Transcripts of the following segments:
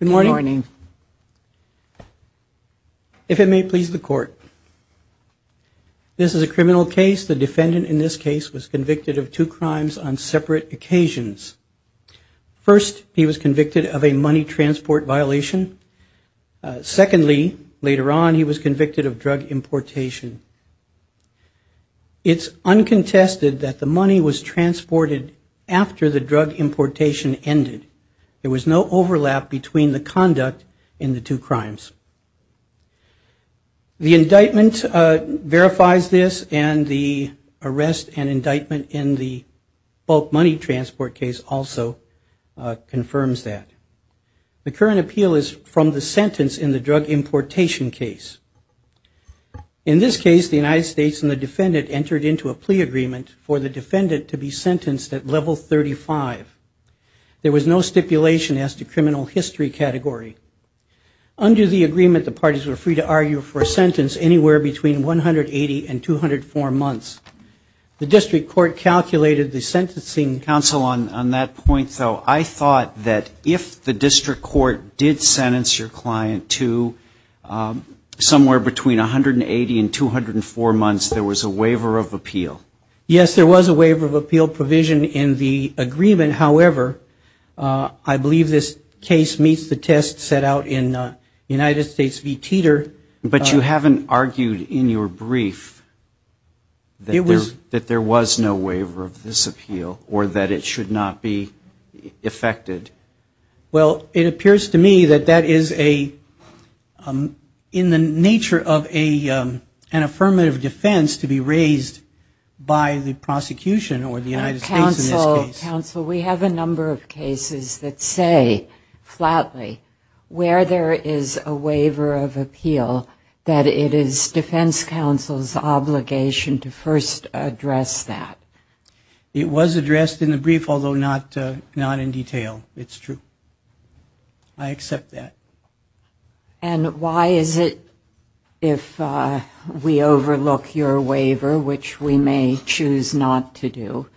Good morning. If it may please the court, this is a criminal case. The defendant in this case was convicted of two crimes on separate occasions. First, he was convicted of a money transport violation. Secondly, later on, he was convicted of drug importation. It's uncontested that the money was transported after the drug importation ended. There was no overlap between the conduct in the two crimes. The indictment verifies this, and the arrest and indictment in the bulk money transport case also confirms that. The current appeal is from the sentence in the drug importation case. In this case, the United States and the defendant entered into a plea agreement for the defendant to be sentenced at level 35. There was no stipulation as to criminal history category. Under the agreement, the parties were free to argue for a sentence anywhere between 180 and 204 months. The district court calculated the sentencing. Justice Breyer, counsel, on that point, though, I thought that if the district court did sentence your client to somewhere between 180 and 204 months, there was a waiver of appeal. Arroyo-Blas Yes, there was a waiver of appeal provision in the agreement. However, I believe this case meets the test set out in United States v. Teeter. Justice Breyer, counsel, but you haven't argued in your brief that there was no waiver of this appeal or that it should not be effected. Arroyo-Blas Well, it appears to me that that is in the nature of an affirmative defense to be raised by the prosecution or the United States in this case. Justice Breyer, counsel, where there is a waiver of appeal, that it is defense counsel's obligation to first address that. Arroyo-Blas It was addressed in the brief, although not in detail. It's true. I accept that. Justice Breyer, counsel, and why is it, if we overlook your waiver, which we may choose not to do,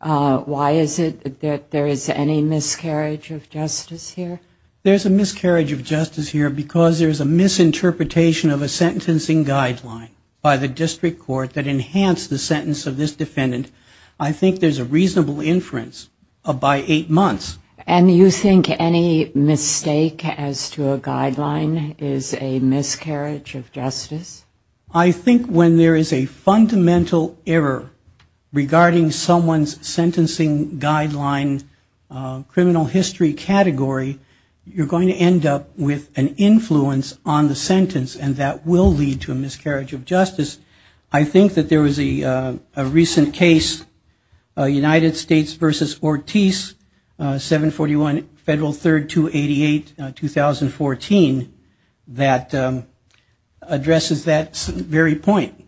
why is it that there is any miscarriage of justice here? Arroyo-Blas There is a miscarriage of justice here because there is a misinterpretation of a sentencing guideline by the district court that enhanced the sentence of this defendant. I think there is a reasonable inference by eight months. Justice Breyer, counsel, and you think any mistake as to a guideline is a miscarriage of justice? Arroyo-Blas I think when there is a fundamental error regarding someone's sentencing guideline, criminal history category, you're going to end up with an influence on the sentence and that will lead to a miscarriage of justice. I think that there was a recent case, United States v. Ortiz, 741 Federal 3rd 288, 2014, that addresses that very point.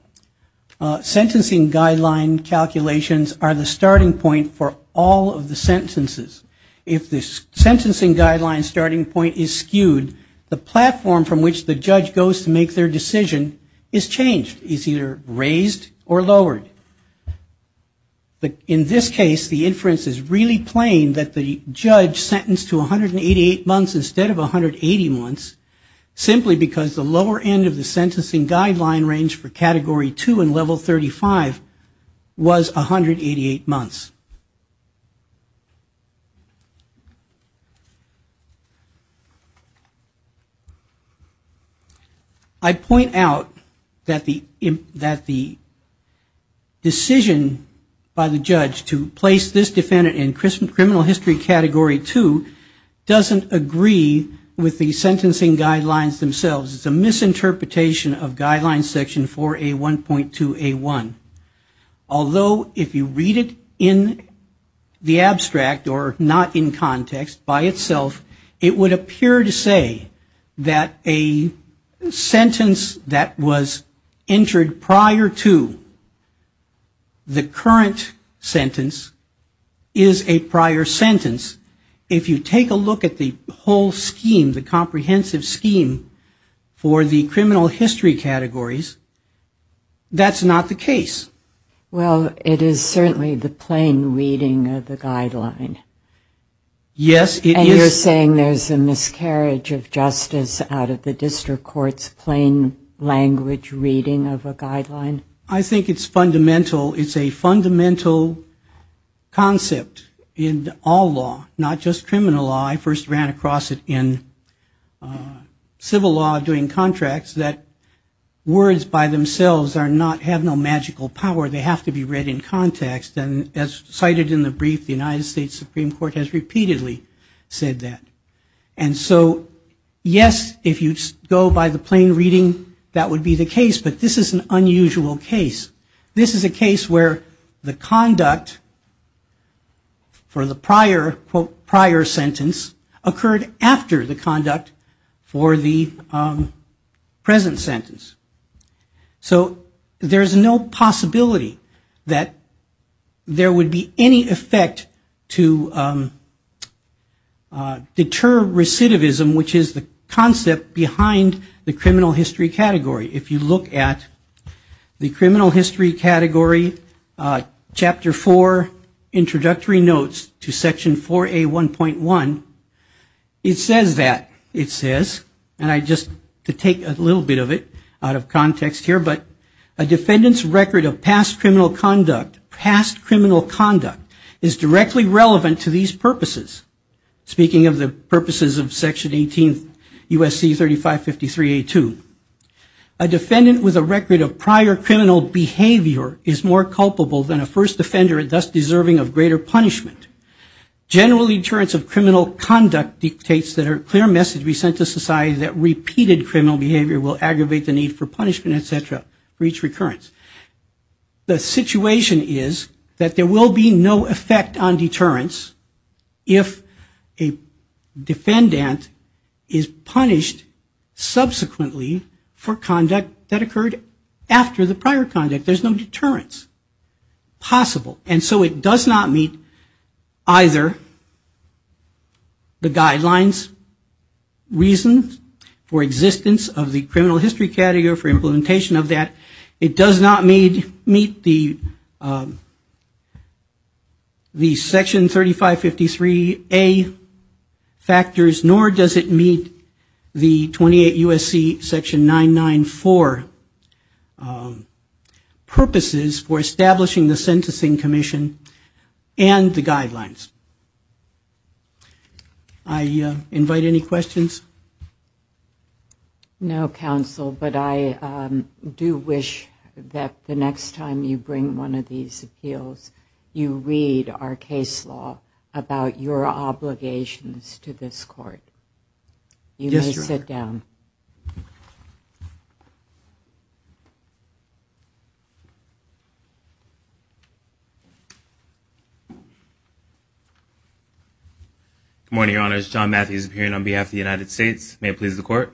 Sentencing guideline calculations are the starting point for all of the sentences. If the sentencing guideline starting point is skewed, the platform from which the judge goes to make their decision is changed, is either raised or lowered. In this case, the inference is really plain that the judge sentenced to 188 months instead of 180 months, simply because the lower end of the sentencing guideline range for category 2 and level 35 was 188 months. I point out that the decision by the judge to place this defendant in criminal history category 2 doesn't agree with the sentencing guidelines themselves. It's a misinterpretation of guideline section 4A1.2A1. Although if you read it in the abstract or not in context by itself, it would appear to say that a sentence that was entered prior to the current sentence is a prior sentence. If you take a look at the whole scheme, the comprehensive scheme for the criminal history categories, that's not the case. Well, it is certainly the plain reading of the guideline. Yes, it is. And you're saying there's a miscarriage of justice out of the district court's plain language reading of a guideline? I think it's fundamental. It's a fundamental concept in all law, not just criminal law. I first ran across it in civil law doing contracts that words by themselves have no magical power. They have to be read in context. And as cited in the brief, the United States Supreme Court has repeatedly said that. And so, yes, if you go by the plain reading, that would be the case. But this is an unusual case. This is a case where the conduct for the prior sentence occurred after the conduct for the present sentence. So there's no possibility that there would be any effect to determining whether or not the sentence was a prior sentence. There's another recidivism, which is the concept behind the criminal history category. If you look at the criminal history category, Chapter 4, introductory notes to Section 4A1.1, it says that, it says, and I just, to take a little bit of it out of context here, but a defendant's record of past criminal conduct, past criminal conduct, is directly relevant to these purposes. Speaking of the purposes of Section 18 U.S.C. 3553A2. A defendant with a record of prior criminal behavior is more culpable than a first offender and thus deserving of greater punishment. General deterrence of criminal conduct dictates that a clear message be sent to society that repeated criminal behavior will aggravate the need for punishment, et cetera, for each recurrence. The situation is that there will be no effect on deterrence if a defendant is punished subsequently for conduct that occurred after the prior conduct. There's no deterrence possible. And so it does not meet either the guidelines, reasons for existence of the criminal history category or for implementation of that. It does not meet the Section 3553A factors, nor does it meet the 28 U.S.C. Section 994 purposes for establishing the Sentencing Commission and the guidelines. I invite any questions. No, counsel, but I do wish that the next time you bring one of these appeals, you read our case law about your obligations to this court. You may sit down. Good morning, Your Honors. John Matthews appearing on behalf of the United States. May it please the Court.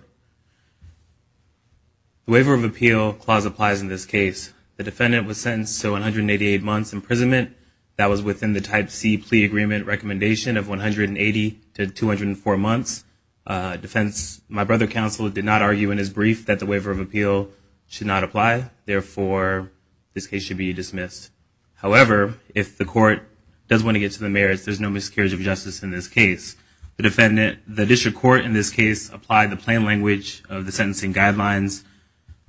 The waiver of appeal clause applies in this case. The defendant was sentenced to 188 months imprisonment. That was within the Type C plea agreement recommendation of 180 to 204 months. My brother counsel did not argue in his brief that the waiver of appeal should not apply. Therefore, this case should be dismissed. However, if the court does want to get to the merits, there's no miscarriage of justice in this case. The district court in this case applied the plain language of the sentencing guidelines.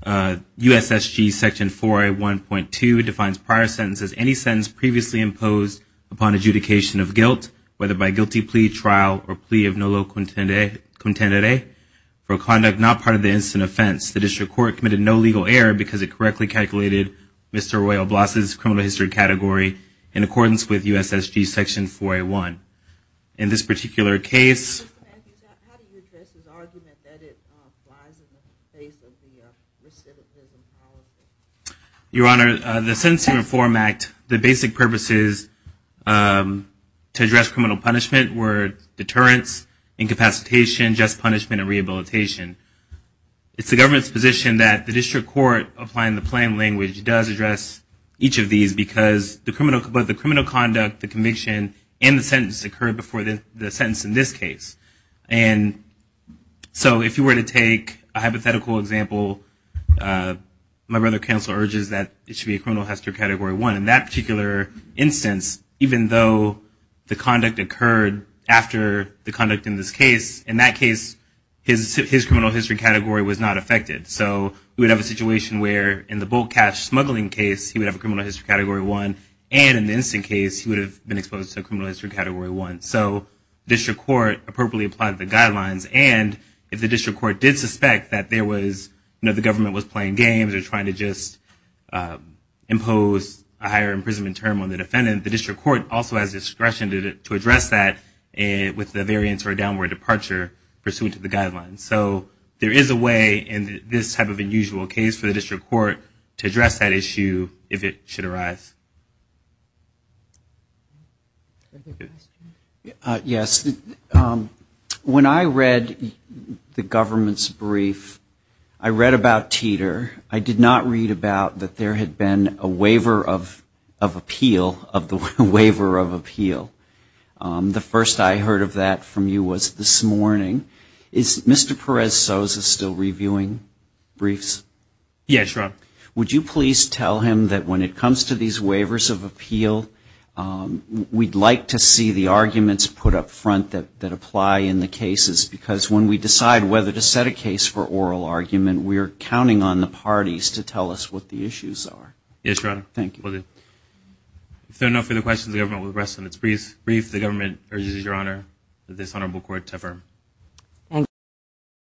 U.S.S.G. Section 4A.1.2 defines prior sentence as any sentence previously imposed upon adjudication of guilt, whether by guilty plea, trial, or plea of no low contendere, for a conduct not part of the incident offense. The district court committed no legal error because it correctly calculated Mr. Royal Bloss's criminal history category in accordance with U.S.S.G. Section 4A.1. In this particular case... Your Honor, the Sentencing Reform Act, the basic purpose is to address questions related to the criminal history category. These include deterrence, incapacitation, just punishment, and rehabilitation. It's the government's position that the district court applying the plain language does address each of these because both the criminal conduct, the conviction, and the sentence occurred before the sentence in this case. If you were to take a hypothetical example, my brother counsel urges that it should be a criminal history category 1. In that particular instance, even though the conduct occurred after the conduct in this case, in that case, his criminal history category was not affected. So we would have a situation where in the bulk cash smuggling case, he would have a criminal history category 1, and in the incident case, he would have been exposed to a criminal history category 1. So the district court appropriately applied the guidelines, and if the district court did suspect that there was... imposed a higher imprisonment term on the defendant, the district court also has discretion to address that with the variance or downward departure pursuant to the guidelines. So there is a way in this type of unusual case for the district court to address that issue if it should arise. Yes. When I read the government's brief, I read about Teeter. I did not read about that there had been a waiver of appeal of the waiver of appeal. The first I heard of that from you was this morning. Is Mr. Perez-Sosa still reviewing briefs? Yes, Rob. Would you please tell him that when it comes to these waivers of appeal, we'd like to see the arguments put up front that apply in the cases, because when we decide whether to set a case for oral argument, we are counting on the parties to tell us what the issues are. Yes, Your Honor.